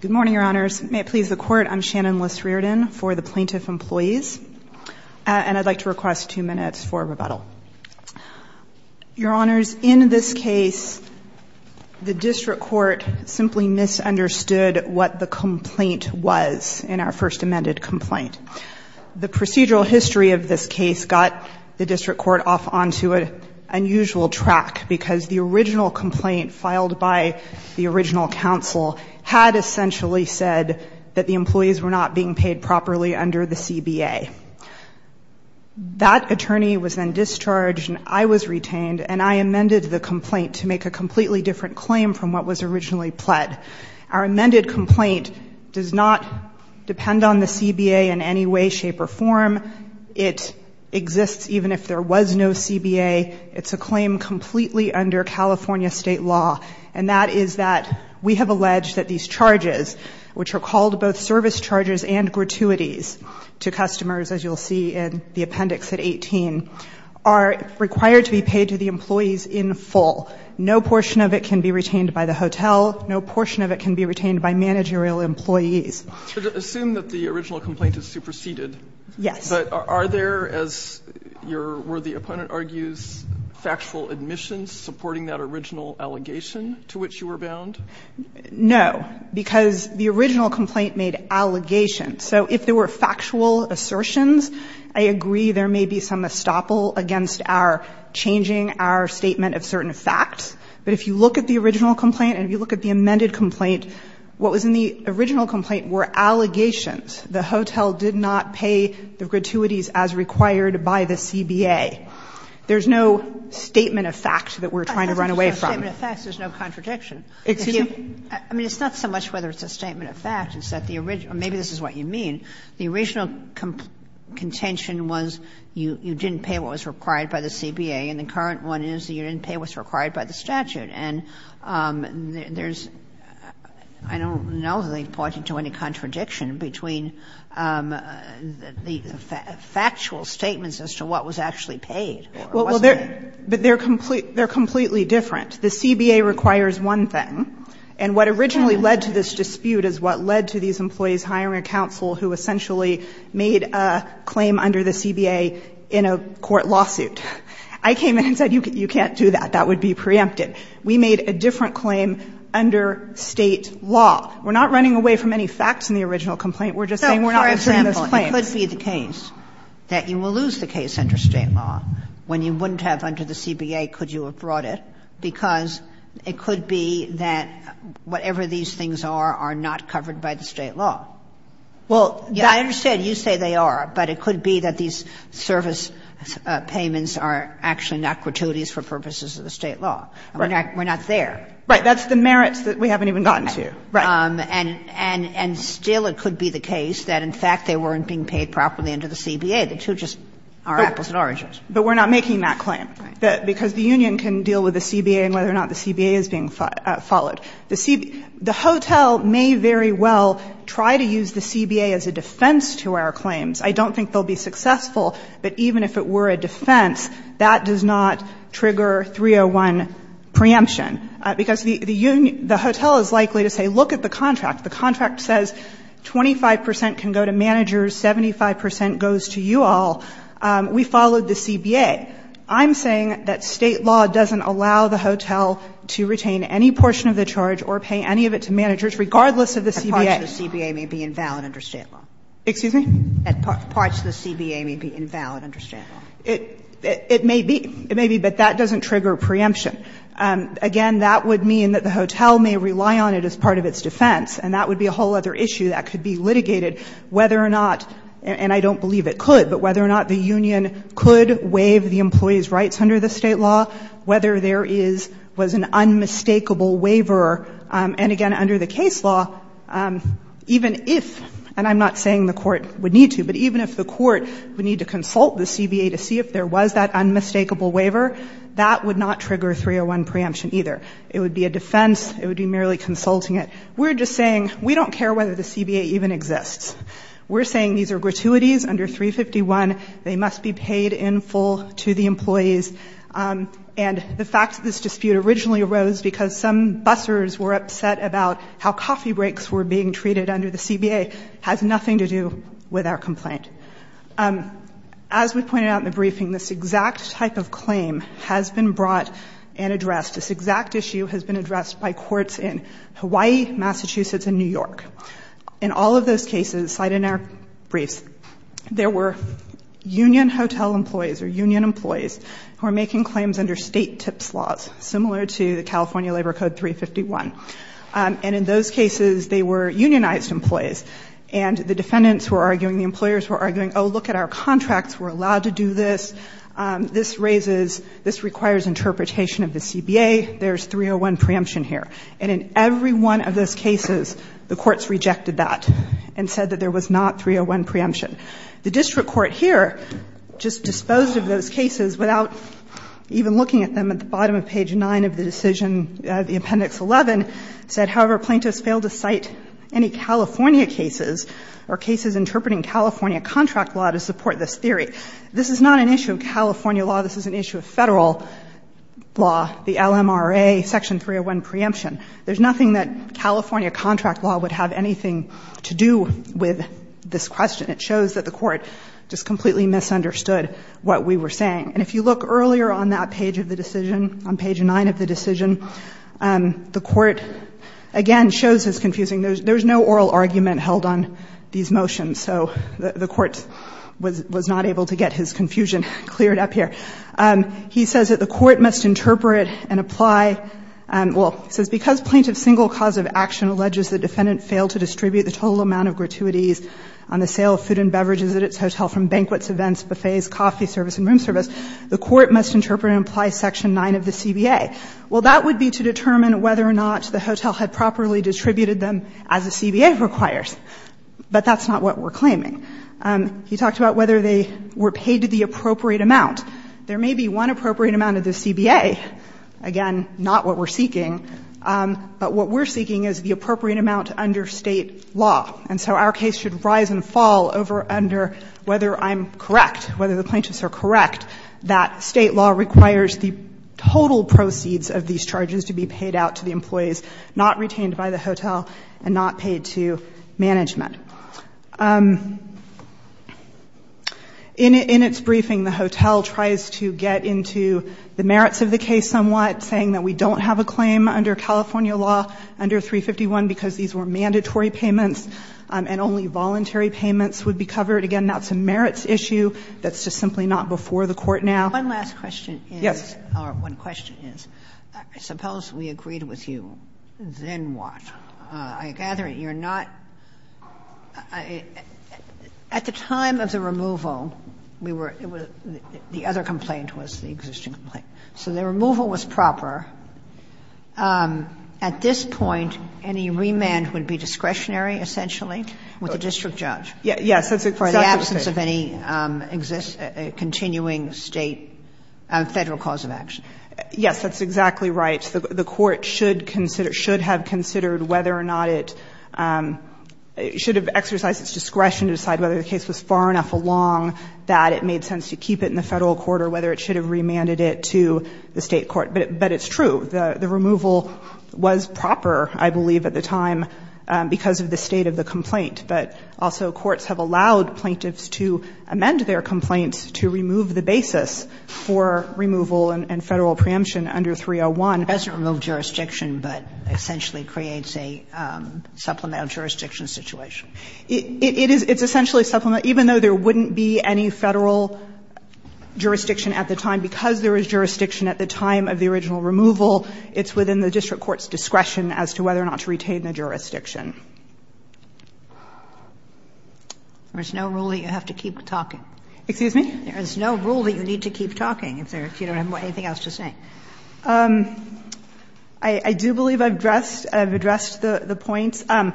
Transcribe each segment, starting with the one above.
Good morning, Your Honors. May it please the Court, I'm Shannon Liss-Riordan for the Plaintiff Employees, and I'd like to request two minutes for rebuttal. Your Honors, in this case, the District Court simply misunderstood what the complaint was in our first amended complaint. The procedural history of this case got the District Court off onto an unusual track because the original complaint filed by the original counsel had essentially said that the employees were not being paid properly under the CBA. That attorney was then discharged and I was retained and I amended the complaint to make a completely different claim from what was originally pled. Our amended complaint does not depend on the CBA in any way, shape, or form under California state law, and that is that we have alleged that these charges, which are called both service charges and gratuities to customers, as you'll see in the appendix at 18, are required to be paid to the employees in full. No portion of it can be retained by the hotel. No portion of it can be retained by managerial employees. So to assume that the original complaint is superseded. Yes. But are there, as your worthy opponent argues, factual admissions supporting that original allegation to which you were bound? No, because the original complaint made allegations. So if there were factual assertions, I agree there may be some estoppel against our changing our statement of certain facts. But if you look at the original complaint and if you look at the amended complaint, what was in the original complaint were allegations. The hotel did not pay the gratuities as required by the CBA. There's no statement of fact that we're trying to run away from. Kagan. There's no statement of fact, there's no contradiction. I mean, it's not so much whether it's a statement of fact, it's that the original or maybe this is what you mean. The original contention was you didn't pay what was required by the CBA, and the current one is you didn't pay what's required by the statute. And there's, I don't know that they point you to any contradiction between the factual statements as to what was actually paid or wasn't paid. Well, they're completely different. The CBA requires one thing, and what originally led to this dispute is what led to these employees hiring a counsel who essentially made a claim under the CBA in a court lawsuit. I came in and said you can't do that, that would be preempted. We made a different claim under State law. We're not running away from any facts in the original complaint, we're just saying we're not issuing So, for example, it could be the case that you will lose the case under State law when you wouldn't have under the CBA could you have brought it, because it could be that whatever these things are are not covered by the State law. Well, I understand you say they are, but it could be that these service payments are actually not gratuities for purposes of the State law. We're not there. Right. That's the merits that we haven't even gotten to. Right. And still it could be the case that in fact they weren't being paid properly under the CBA. The two just are apples and oranges. But we're not making that claim, because the union can deal with the CBA and whether or not the CBA is being followed. The CBA the hotel may very well try to use the CBA as a defense to our claims. I don't think they'll be successful, but even if it were a defense, that does not trigger 301 preemption, because the union the hotel is likely to say look at the contract. The contract says 25 percent can go to managers, 75 percent goes to you all. We followed the CBA. I'm saying that State law doesn't allow the hotel to retain any portion of the charge or pay any of it to managers, regardless of the CBA. Kagan. Parts of the CBA may be invalid under State law. Excuse me? Parts of the CBA may be invalid under State law. It may be. It may be, but that doesn't trigger preemption. Again, that would mean that the hotel may rely on it as part of its defense, and that would be a whole other issue that could be litigated whether or not, and I don't believe it could, but whether or not the union could waive the employee's rights under the State law, whether there is, was an unmistakable waiver, and again, under the case law, even if, and I'm not saying the court would need to, but even if the court would need to see if there was that unmistakable waiver, that would not trigger 301 preemption either. It would be a defense. It would be merely consulting it. We're just saying we don't care whether the CBA even exists. We're saying these are gratuities under 351. They must be paid in full to the employees, and the fact that this dispute originally arose because some bussers were upset about how coffee breaks were being treated under the CBA has nothing to do with our complaint. As we pointed out in the briefing, this exact type of claim has been brought and addressed. This exact issue has been addressed by courts in Hawaii, Massachusetts, and New York. In all of those cases cited in our briefs, there were union hotel employees or union employees who were making claims under State TIPS laws, similar to the California Labor Code 351, and in those cases, they were unionized employees, and the defendants were arguing, the employers were arguing, oh, look at our contracts. We're allowed to do this. This raises – this requires interpretation of the CBA. There's 301 preemption here. And in every one of those cases, the courts rejected that and said that there was not 301 preemption. The district court here just disposed of those cases without even looking at them. At the bottom of page 9 of the decision, the Appendix 11, said, however, plaintiffs fail to cite any California cases or cases interpreting California contract law to support this theory. This is not an issue of California law. This is an issue of Federal law, the LMRA Section 301 preemption. There's nothing that California contract law would have anything to do with this question. It shows that the Court just completely misunderstood what we were saying. And if you look earlier on that page of the decision, on page 9 of the decision, the Court, again, shows it's confusing. There's no oral argument held on these motions, so the Court was not able to get his confusion cleared up here. He says that the Court must interpret and apply – well, it says because plaintiff's single cause of action alleges the defendant failed to distribute the total amount of gratuities on the sale of food and beverages at its hotel from banquets, events, buffets, coffee service and room service, the Court must interpret and apply Section 9 of the CBA. Well, that would be to determine whether or not the hotel had properly distributed them as the CBA requires, but that's not what we're claiming. He talked about whether they were paid the appropriate amount. There may be one appropriate amount of the CBA. Again, not what we're seeking, but what we're seeking is the appropriate amount under State law. And so our case should rise and fall over under whether I'm correct, whether the total proceeds of these charges to be paid out to the employees not retained by the hotel and not paid to management. In its briefing, the hotel tries to get into the merits of the case somewhat, saying that we don't have a claim under California law under 351 because these were mandatory payments and only voluntary payments would be covered. Again, that's a merits issue that's just simply not before the Court now. One last question is, or one question is, I suppose we agreed with you, then what? I gather you're not at the time of the removal, we were, the other complaint was the existing complaint, so the removal was proper. At this point, any remand would be discretionary, essentially, with the district judge. Yes, that's exactly right. And so that's the case of any continuing State federal cause of action. Yes, that's exactly right. The Court should have considered whether or not it should have exercised its discretion to decide whether the case was far enough along that it made sense to keep it in the Federal court or whether it should have remanded it to the State court. But it's true. The removal was proper, I believe, at the time because of the state of the complaint. But also courts have allowed plaintiffs to amend their complaints to remove the basis for removal and Federal preemption under 301. It doesn't remove jurisdiction, but essentially creates a supplemental jurisdiction situation. It is, it's essentially a supplemental, even though there wouldn't be any Federal jurisdiction at the time, because there is jurisdiction at the time of the original removal, it's within the district court's discretion as to whether or not to retain the jurisdiction. There's no rule that you have to keep talking. Excuse me? There's no rule that you need to keep talking if you don't have anything else to say. I do believe I've addressed the points. I'm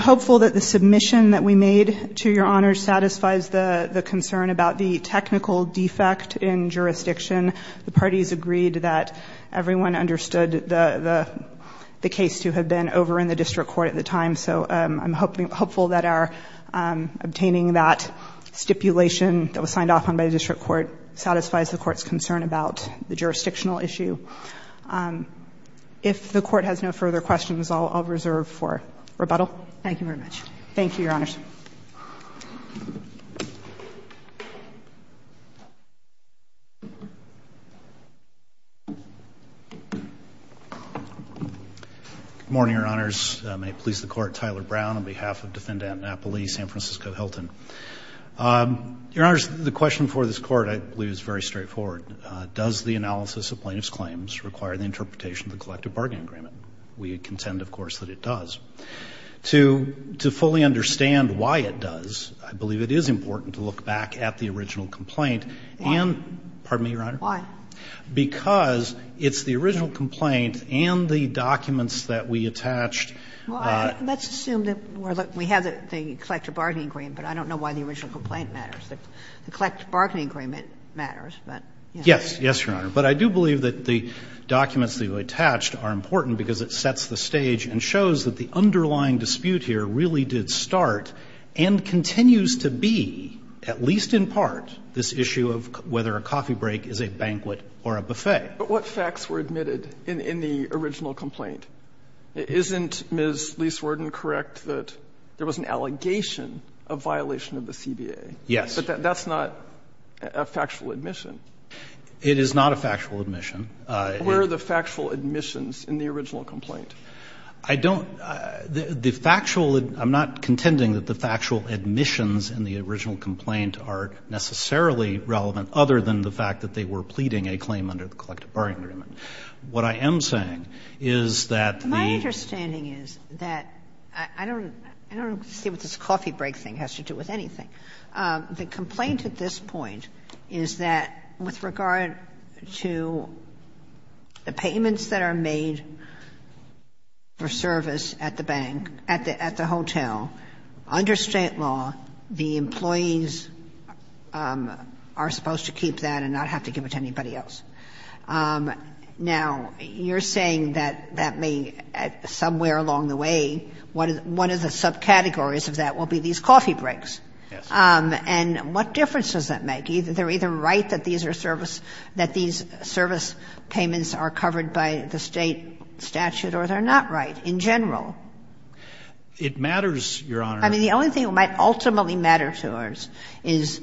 hopeful that the submission that we made to Your Honor satisfies the concern about the technical defect in jurisdiction. The parties agreed that everyone understood the case to have been over in the district court at the time. So I'm hopeful that our obtaining that stipulation that was signed off on by the district court satisfies the court's concern about the jurisdictional issue. If the court has no further questions, I'll reserve for rebuttal. Thank you very much. Thank you, Your Honors. Good morning, Your Honors. May it please the Court, Tyler Brown on behalf of Defendant Napoli, San Francisco-Hilton. Your Honors, the question for this Court, I believe, is very straightforward. Does the analysis of plaintiff's claims require the interpretation of the collective bargaining agreement? We contend, of course, that it does. To fully understand why it does, I believe it is important to look back at the original complaint and the original complaint and the documents that we attached. Why? Because it's the original complaint and the documents that we attached. Well, let's assume that we have the collective bargaining agreement, but I don't know why the original complaint matters. The collective bargaining agreement matters, but, you know. Yes, yes, Your Honor. But I do believe that the documents that you attached are important because it sets the stage and shows that the underlying dispute here really did start and continues to be, at least in part, this issue of whether a coffee break is a banquet or a buffet. But what facts were admitted in the original complaint? Isn't Ms. Lees-Warden correct that there was an allegation of violation of the CBA? Yes. But that's not a factual admission. It is not a factual admission. Where are the factual admissions in the original complaint? I don't the factual I'm not contending that the factual admissions in the original complaint are necessarily relevant other than the fact that they were pleading a claim under the collective bargaining agreement. What I am saying is that the. My understanding is that I don't I don't see what this coffee break thing has to do with anything. The complaint at this point is that with regard to the payments that are made, for service at the bank, at the hotel, under state law, the employees are supposed to keep that and not have to give it to anybody else. Now, you're saying that that may, somewhere along the way, one of the subcategories of that will be these coffee breaks. And what difference does that make? Either they're either right that these are service, that these service payments are covered by the state statute, or they're not right in general. It matters, Your Honor. I mean, the only thing that might ultimately matter to us is,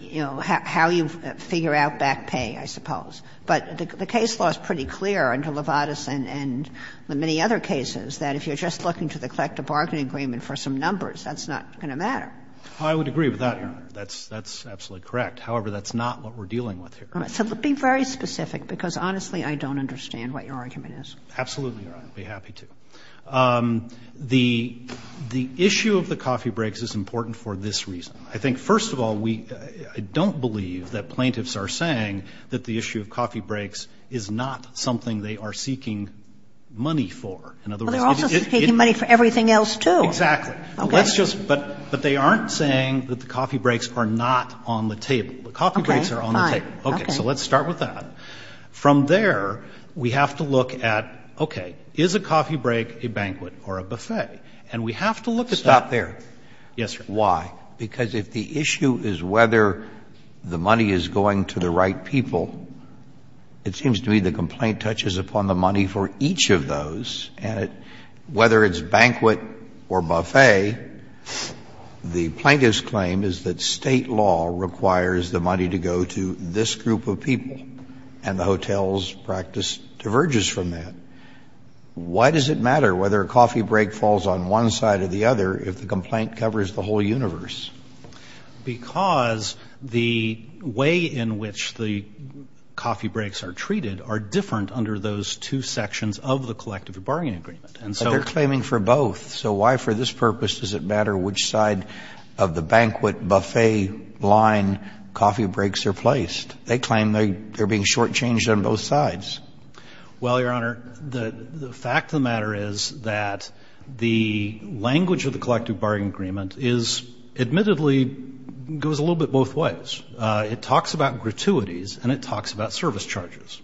you know, how you figure out back pay, I suppose. But the case law is pretty clear under Levadus and the many other cases that if you're just looking to the collective bargaining agreement for some numbers, that's not going to matter. I would agree with that, Your Honor. That's absolutely correct. However, that's not what we're dealing with here. So be very specific, because honestly, I don't understand what your argument is. Absolutely, Your Honor. I'd be happy to. The issue of the coffee breaks is important for this reason. I think, first of all, we don't believe that plaintiffs are saying that the issue of coffee breaks is not something they are seeking money for. In other words, it's just that they aren't saying that the coffee breaks are not on the table. The coffee breaks are on the table. Okay. So let's start with that. From there, we have to look at, okay, is a coffee break a banquet or a buffet? And we have to look at that. Stop there. Yes, sir. Why? Because if the issue is whether the money is going to the right people, it seems to me the complaint touches upon the money for each of those, and whether it's banquet or buffet, the plaintiff's claim is that State law requires the money to go to this group of people, and the hotel's practice diverges from that. Why does it matter whether a coffee break falls on one side or the other if the complaint covers the whole universe? Because the way in which the coffee breaks are treated are different under those two sections of the collective bargaining agreement, and so they're claiming for both. So why, for this purpose, does it matter which side of the banquet, buffet line coffee breaks are placed? They claim they're being shortchanged on both sides. Well, Your Honor, the fact of the matter is that the language of the collective bargaining agreement is, admittedly, goes a little bit both ways. It talks about gratuities and it talks about service charges.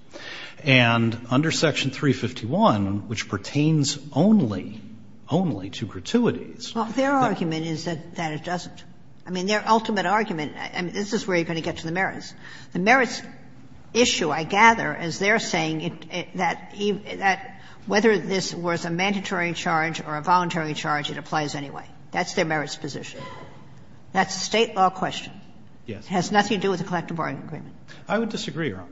And under Section 351, which pertains only, only to gratuities, that's not true. Well, their argument is that it doesn't. I mean, their ultimate argument, and this is where you're going to get to the merits. The merits issue, I gather, is they're saying that whether this was a mandatory charge or a voluntary charge, it applies anyway. That's their merits position. That's a State law question. It has nothing to do with the collective bargaining agreement. I would disagree, Your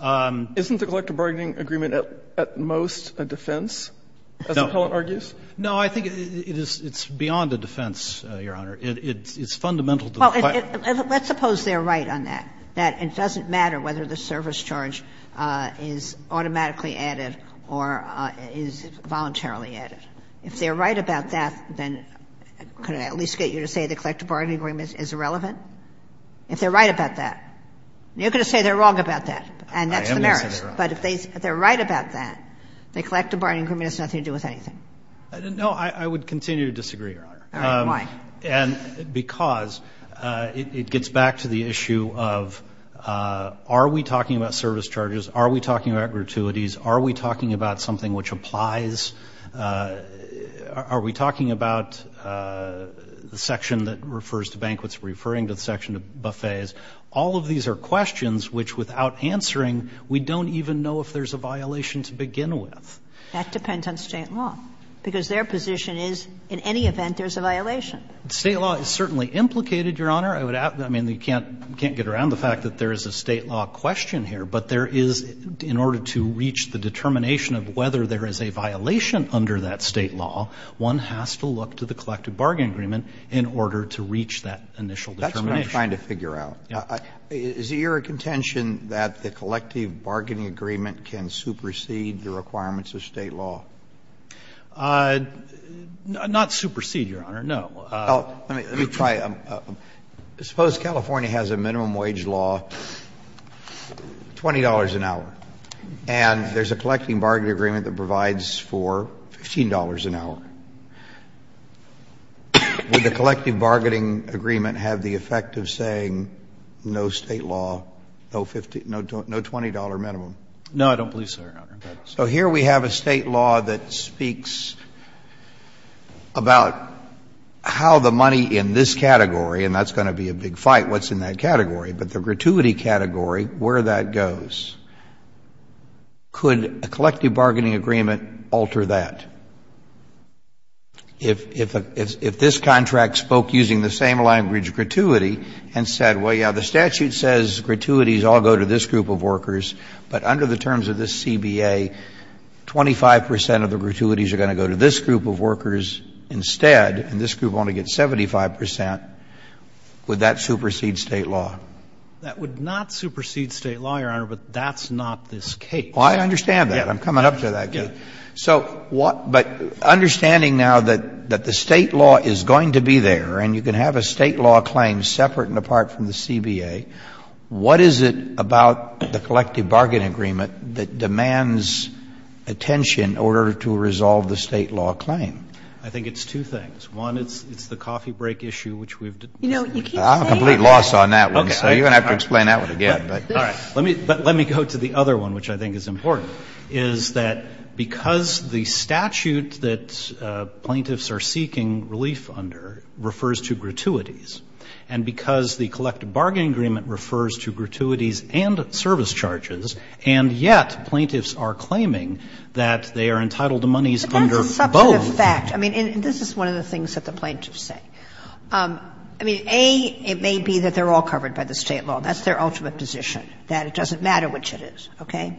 Honor. Isn't the collective bargaining agreement at most a defense, as the Pellant argues? No. I think it's beyond a defense, Your Honor. It's fundamental to the question. Well, let's suppose they're right on that, that it doesn't matter whether the service charge is automatically added or is voluntarily added. If they're right about that, then could I at least get you to say the collective bargaining agreement is irrelevant? If they're right about that. You're going to say they're wrong about that, and that's the merits. I am going to say they're wrong. But if they're right about that, the collective bargaining agreement has nothing to do with anything. No, I would continue to disagree, Your Honor. All right. Why? And because it gets back to the issue of are we talking about service charges? Are we talking about gratuities? Are we talking about something which applies? Are we talking about the section that refers to banquets, referring to the section of buffets? All of these are questions which, without answering, we don't even know if there's a violation to begin with. That depends on State law, because their position is in any event there's a violation. State law is certainly implicated, Your Honor. I would ask you, I mean, we can't get around the fact that there is a State law question here, but there is, in order to reach the determination of whether there is a violation under that State law, one has to look to the collective bargaining agreement in order to reach that initial determination. That's what I'm trying to figure out. Is it your contention that the collective bargaining agreement can supersede the requirements of State law? Not supersede, Your Honor, no. Let me try. Suppose California has a minimum wage law, $20 an hour, and there's a collective bargaining agreement that provides for $15 an hour. Would the collective bargaining agreement have the effect of saying no State law, no $20 minimum? No, I don't believe so, Your Honor. So here we have a State law that speaks about how the money in this category, and that's going to be a big fight, what's in that category, but the gratuity category, where that goes. Could a collective bargaining agreement alter that? If this contract spoke using the same language, gratuity, and said, well, yeah, the statute says gratuities all go to this group of workers, but under the terms of this CBA, 25 percent of the gratuities are going to go to this group of workers instead, and this group only gets 75 percent, would that supersede State law? That would not supersede State law, Your Honor, but that's not this case. Well, I understand that. I'm coming up to that case. So what — but understanding now that the State law is going to be there, and you can have a State law claim separate and apart from the CBA, what is it about the statute that demands attention in order to resolve the State law claim? I think it's two things. One, it's the coffee break issue, which we've discussed. I'm a complete loss on that one, so you're going to have to explain that one again. All right. But let me go to the other one, which I think is important, is that because the statute that plaintiffs are seeking relief under refers to gratuities, and because the collective bargaining agreement refers to gratuities and service charges, and yet plaintiffs are claiming that they are entitled to monies under both. But that's a substantive fact. I mean, and this is one of the things that the plaintiffs say. I mean, A, it may be that they're all covered by the State law. That's their ultimate position, that it doesn't matter which it is. Okay?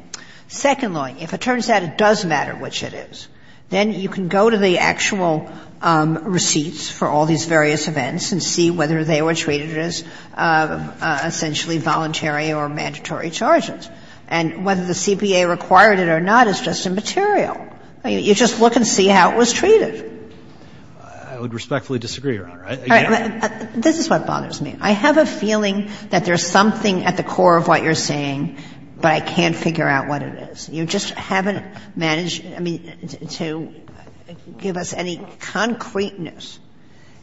Second-lawing, if it turns out it does matter which it is, then you can go to the actual receipts for all these various events and see whether they were treated as essentially voluntary or mandatory charges. And whether the CPA required it or not is just immaterial. You just look and see how it was treated. I would respectfully disagree, Your Honor. I can't. This is what bothers me. I have a feeling that there's something at the core of what you're saying, but I can't figure out what it is. You just haven't managed, I mean, to give us any concreteness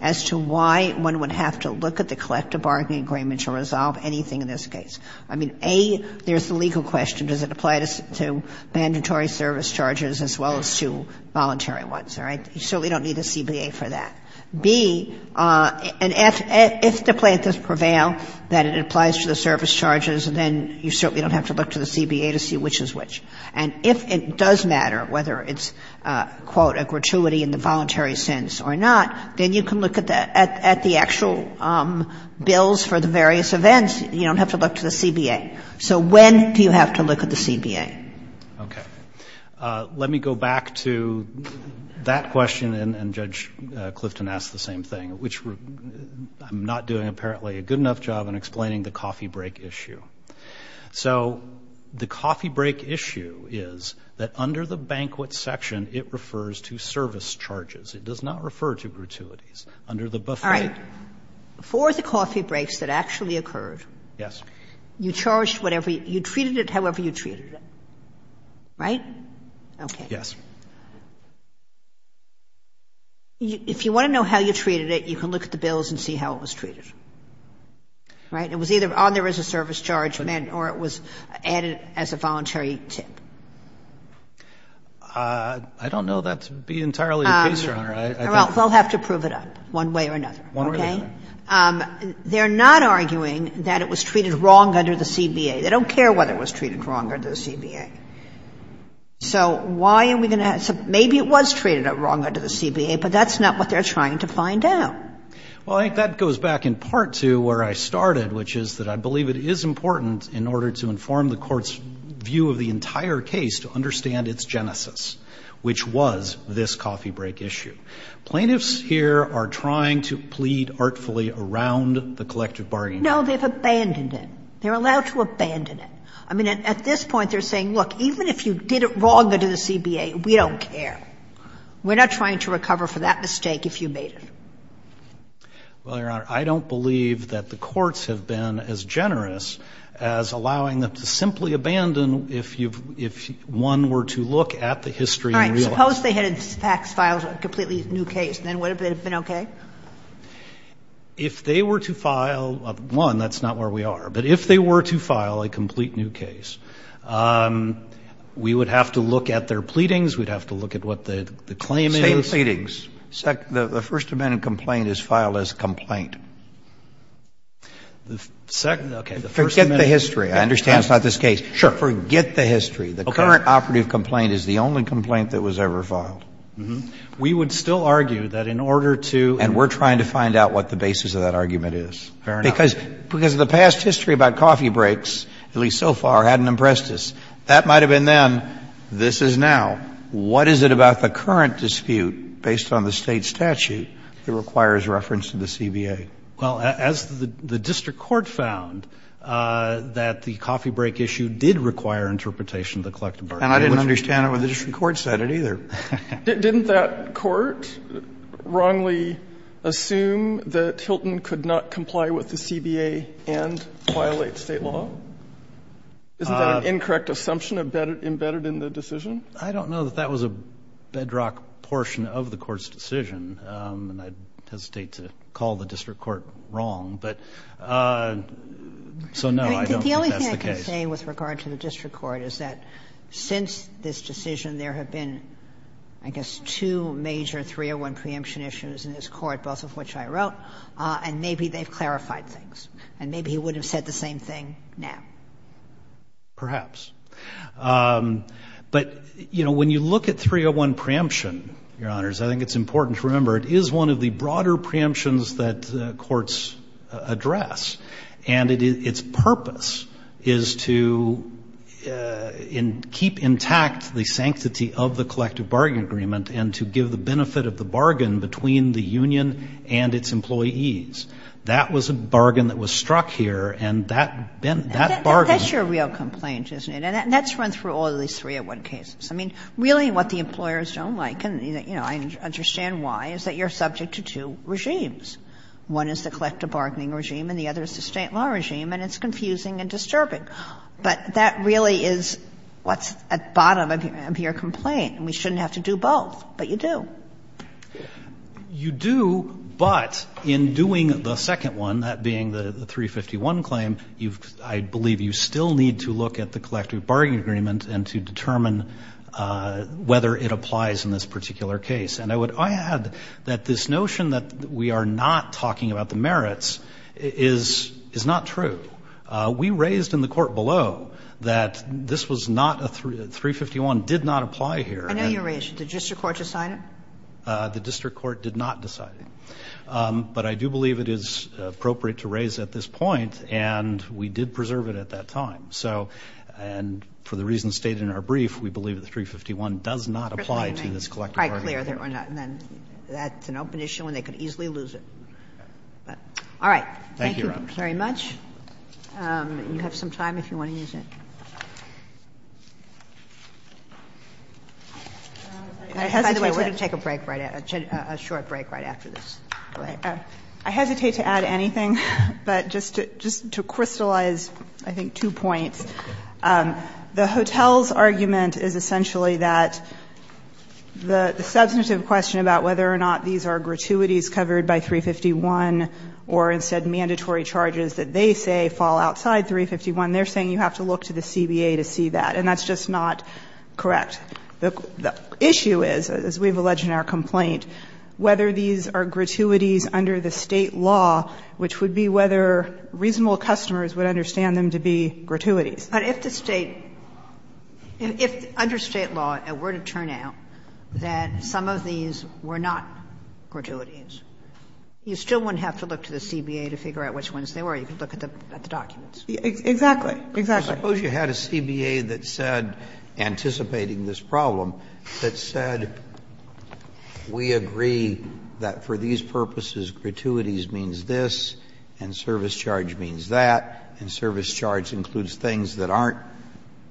as to why one would have to look at the collective bargaining agreement to resolve anything in this case. I mean, A, there's the legal question. Does it apply to mandatory service charges as well as to voluntary ones? All right? You certainly don't need a CBA for that. B, and if the plaintiffs prevail that it applies to the service charges, then you certainly don't have to look to the CBA to see which is which. And if it does matter whether it's, quote, a gratuity in the voluntary sense or not, then you can look at the actual bills for the various events. You don't have to look to the CBA. So when do you have to look at the CBA? Okay. Let me go back to that question, and Judge Clifton asked the same thing, which I'm not doing, apparently, a good enough job in explaining the coffee break issue. So the coffee break issue is that under the banquet section, it refers to service charges. It does not refer to gratuities under the buffet. All right. For the coffee breaks that actually occurred. Yes. You charged whatever, you treated it however you treated it, right? Okay. Yes. If you want to know how you treated it, you can look at the bills and see how it was treated, right? It was either on there as a service charge, or it was added as a voluntary tip. I don't know. That would be entirely the case, Your Honor. Well, they'll have to prove it up one way or another. Okay? They're not arguing that it was treated wrong under the CBA. They don't care whether it was treated wrong under the CBA. So why are we going to have to – maybe it was treated wrong under the CBA, but that's not what they're trying to find out. Well, I think that goes back in part to where I started, which is that I believe it is important in order to inform the court's view of the entire case to understand its genesis, which was this coffee break issue. Plaintiffs here are trying to plead artfully around the collective bargaining. No, they've abandoned it. They're allowed to abandon it. I mean, at this point, they're saying, look, even if you did it wrong under the CBA, we don't care. We're not trying to recover for that mistake if you made it. Well, Your Honor, I don't believe that the courts have been as generous as allowing them to simply abandon if you've – if one were to look at the history and realize All right. Suppose they had in fact filed a completely new case. Then would it have been okay? If they were to file – one, that's not where we are. But if they were to file a complete new case, we would have to look at their pleadings. We'd have to look at what the claim is. Same pleadings. The First Amendment complaint is filed as complaint. The second – okay. Forget the history. I understand it's not this case. Sure. Forget the history. The current operative complaint is the only complaint that was ever filed. We would still argue that in order to – And we're trying to find out what the basis of that argument is. Fair enough. Because the past history about coffee breaks, at least so far, hadn't impressed us. That might have been then. This is now. What is it about the current dispute, based on the State statute, that requires reference to the CBA? Well, as the district court found that the coffee break issue did require interpretation of the collective argument. And I didn't understand it when the district court said it either. Didn't that court wrongly assume that Hilton could not comply with the CBA and violate State law? Isn't that an incorrect assumption embedded in the decision? I don't know that that was a bedrock portion of the court's decision. And I hesitate to call the district court wrong. But – so, no, I don't think that's the case. The only thing I can say with regard to the district court is that since this decision, there have been, I guess, two major 301 preemption issues in this court, both of which I wrote. And maybe they've clarified things. And maybe he would have said the same thing now. Perhaps. But, you know, when you look at 301 preemption, Your Honors, I think it's important to remember it is one of the broader preemptions that courts address. And its purpose is to keep intact the sanctity of the collective bargain agreement and to give the benefit of the bargain between the union and its employees. That was a bargain that was struck here. And that bargain – That's your real complaint, isn't it? And that's run through all of these 301 cases. I mean, really what the employers don't like, and, you know, I understand why, is that you're subject to two regimes. One is the collective bargaining regime, and the other is the State law regime, and it's confusing and disturbing. But that really is what's at the bottom of your complaint. And we shouldn't have to do both. But you do. You do, but in doing the second one, that being the 351 claim, you've – I believe you still need to look at the collective bargaining agreement and to determine whether it applies in this particular case. And I would add that this notion that we are not talking about the merits is not true. We raised in the court below that this was not a – 351 did not apply here. I know you raised it. Did the district court just sign it? The district court did not decide it. But I do believe it is appropriate to raise at this point, and we did preserve it at that time. So – and for the reasons stated in our brief, we believe that the 351 does not apply to this collective bargaining agreement. And then that's an open issue, and they could easily lose it. All right. Thank you, Your Honor. Thank you very much. You have some time if you want to use it. By the way, we're going to take a break right – a short break right after this. Go ahead. I hesitate to add anything, but just to crystallize, I think, two points. The hotel's argument is essentially that the substantive question about whether or not these are gratuities covered by 351 or instead mandatory charges that they say fall outside 351, they're saying you have to look to the CBA to see that. And that's just not correct. The issue is, as we've alleged in our complaint, whether these are gratuities under the State law, which would be whether reasonable customers would understand them to be gratuities. But if the State – if under State law it were to turn out that some of these were not gratuities, you still wouldn't have to look to the CBA to figure out which ones they were. You could look at the documents. Exactly. Exactly. Sotomayor, I suppose you had a CBA that said, anticipating this problem, that said we agree that for these purposes gratuities means this and service charge means that, and service charge includes things that aren't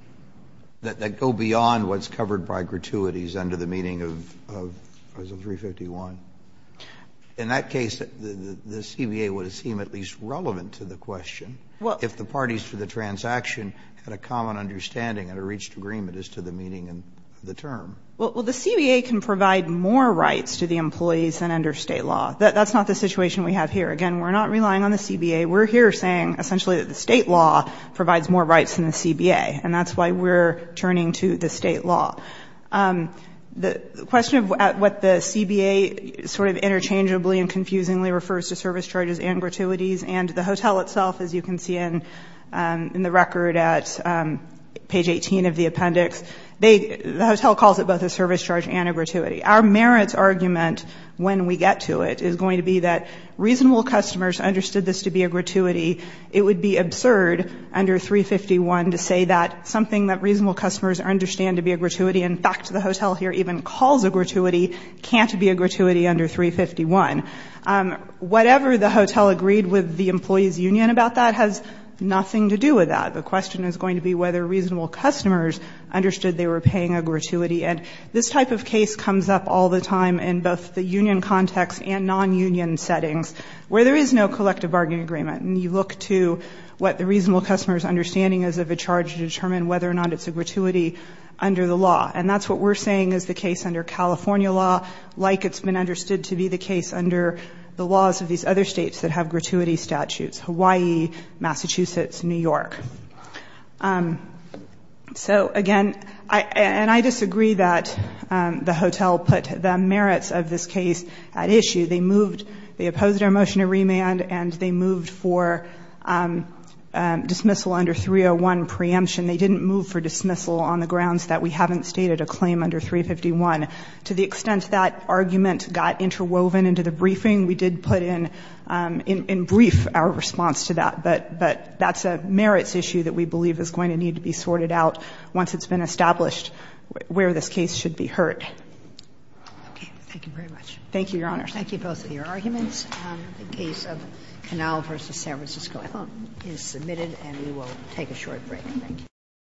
– that go beyond what's covered by gratuities under the meaning of Article 351. In that case, the CBA would seem at least relevant to the question. If the parties to the transaction had a common understanding and a reached agreement as to the meaning of the term. Well, the CBA can provide more rights to the employees than under State law. That's not the situation we have here. Again, we're not relying on the CBA. We're here saying essentially that the State law provides more rights than the CBA, and that's why we're turning to the State law. The question of what the CBA sort of interchangeably and confusingly refers to service charges and gratuities, and the hotel itself, as you can see in the record at page 18 of the appendix, they – the hotel calls it both a service charge and a gratuity. Our merits argument when we get to it is going to be that reasonable customers understood this to be a gratuity. It would be absurd under 351 to say that something that reasonable customers understand to be a gratuity, in fact, the hotel here even calls a gratuity, can't be a gratuity under 351. Whatever the hotel agreed with the employee's union about that has nothing to do with that. The question is going to be whether reasonable customers understood they were paying a gratuity. And this type of case comes up all the time in both the union context and non-union settings where there is no collective bargaining agreement. And you look to what the reasonable customer's understanding is of a charge to determine whether or not it's a gratuity under the law. And that's what we're saying is the case under California law, like it's been understood to be the case under the laws of these other states that have gratuity statutes, Hawaii, Massachusetts, New York. So, again, and I disagree that the hotel put the merits of this case at issue. They moved – they opposed our motion to remand and they moved for dismissal under 301 preemption. They didn't move for dismissal on the grounds that we haven't stated a claim under 351. To the extent that argument got interwoven into the briefing, we did put in, in brief, our response to that. But that's a merits issue that we believe is going to need to be sorted out once it's been established where this case should be heard. Okay. Thank you very much. Thank you, Your Honor. Thank you both for your arguments. The case of Canal v. San Francisco, I hope, is submitted and we will take a short break. Thank you.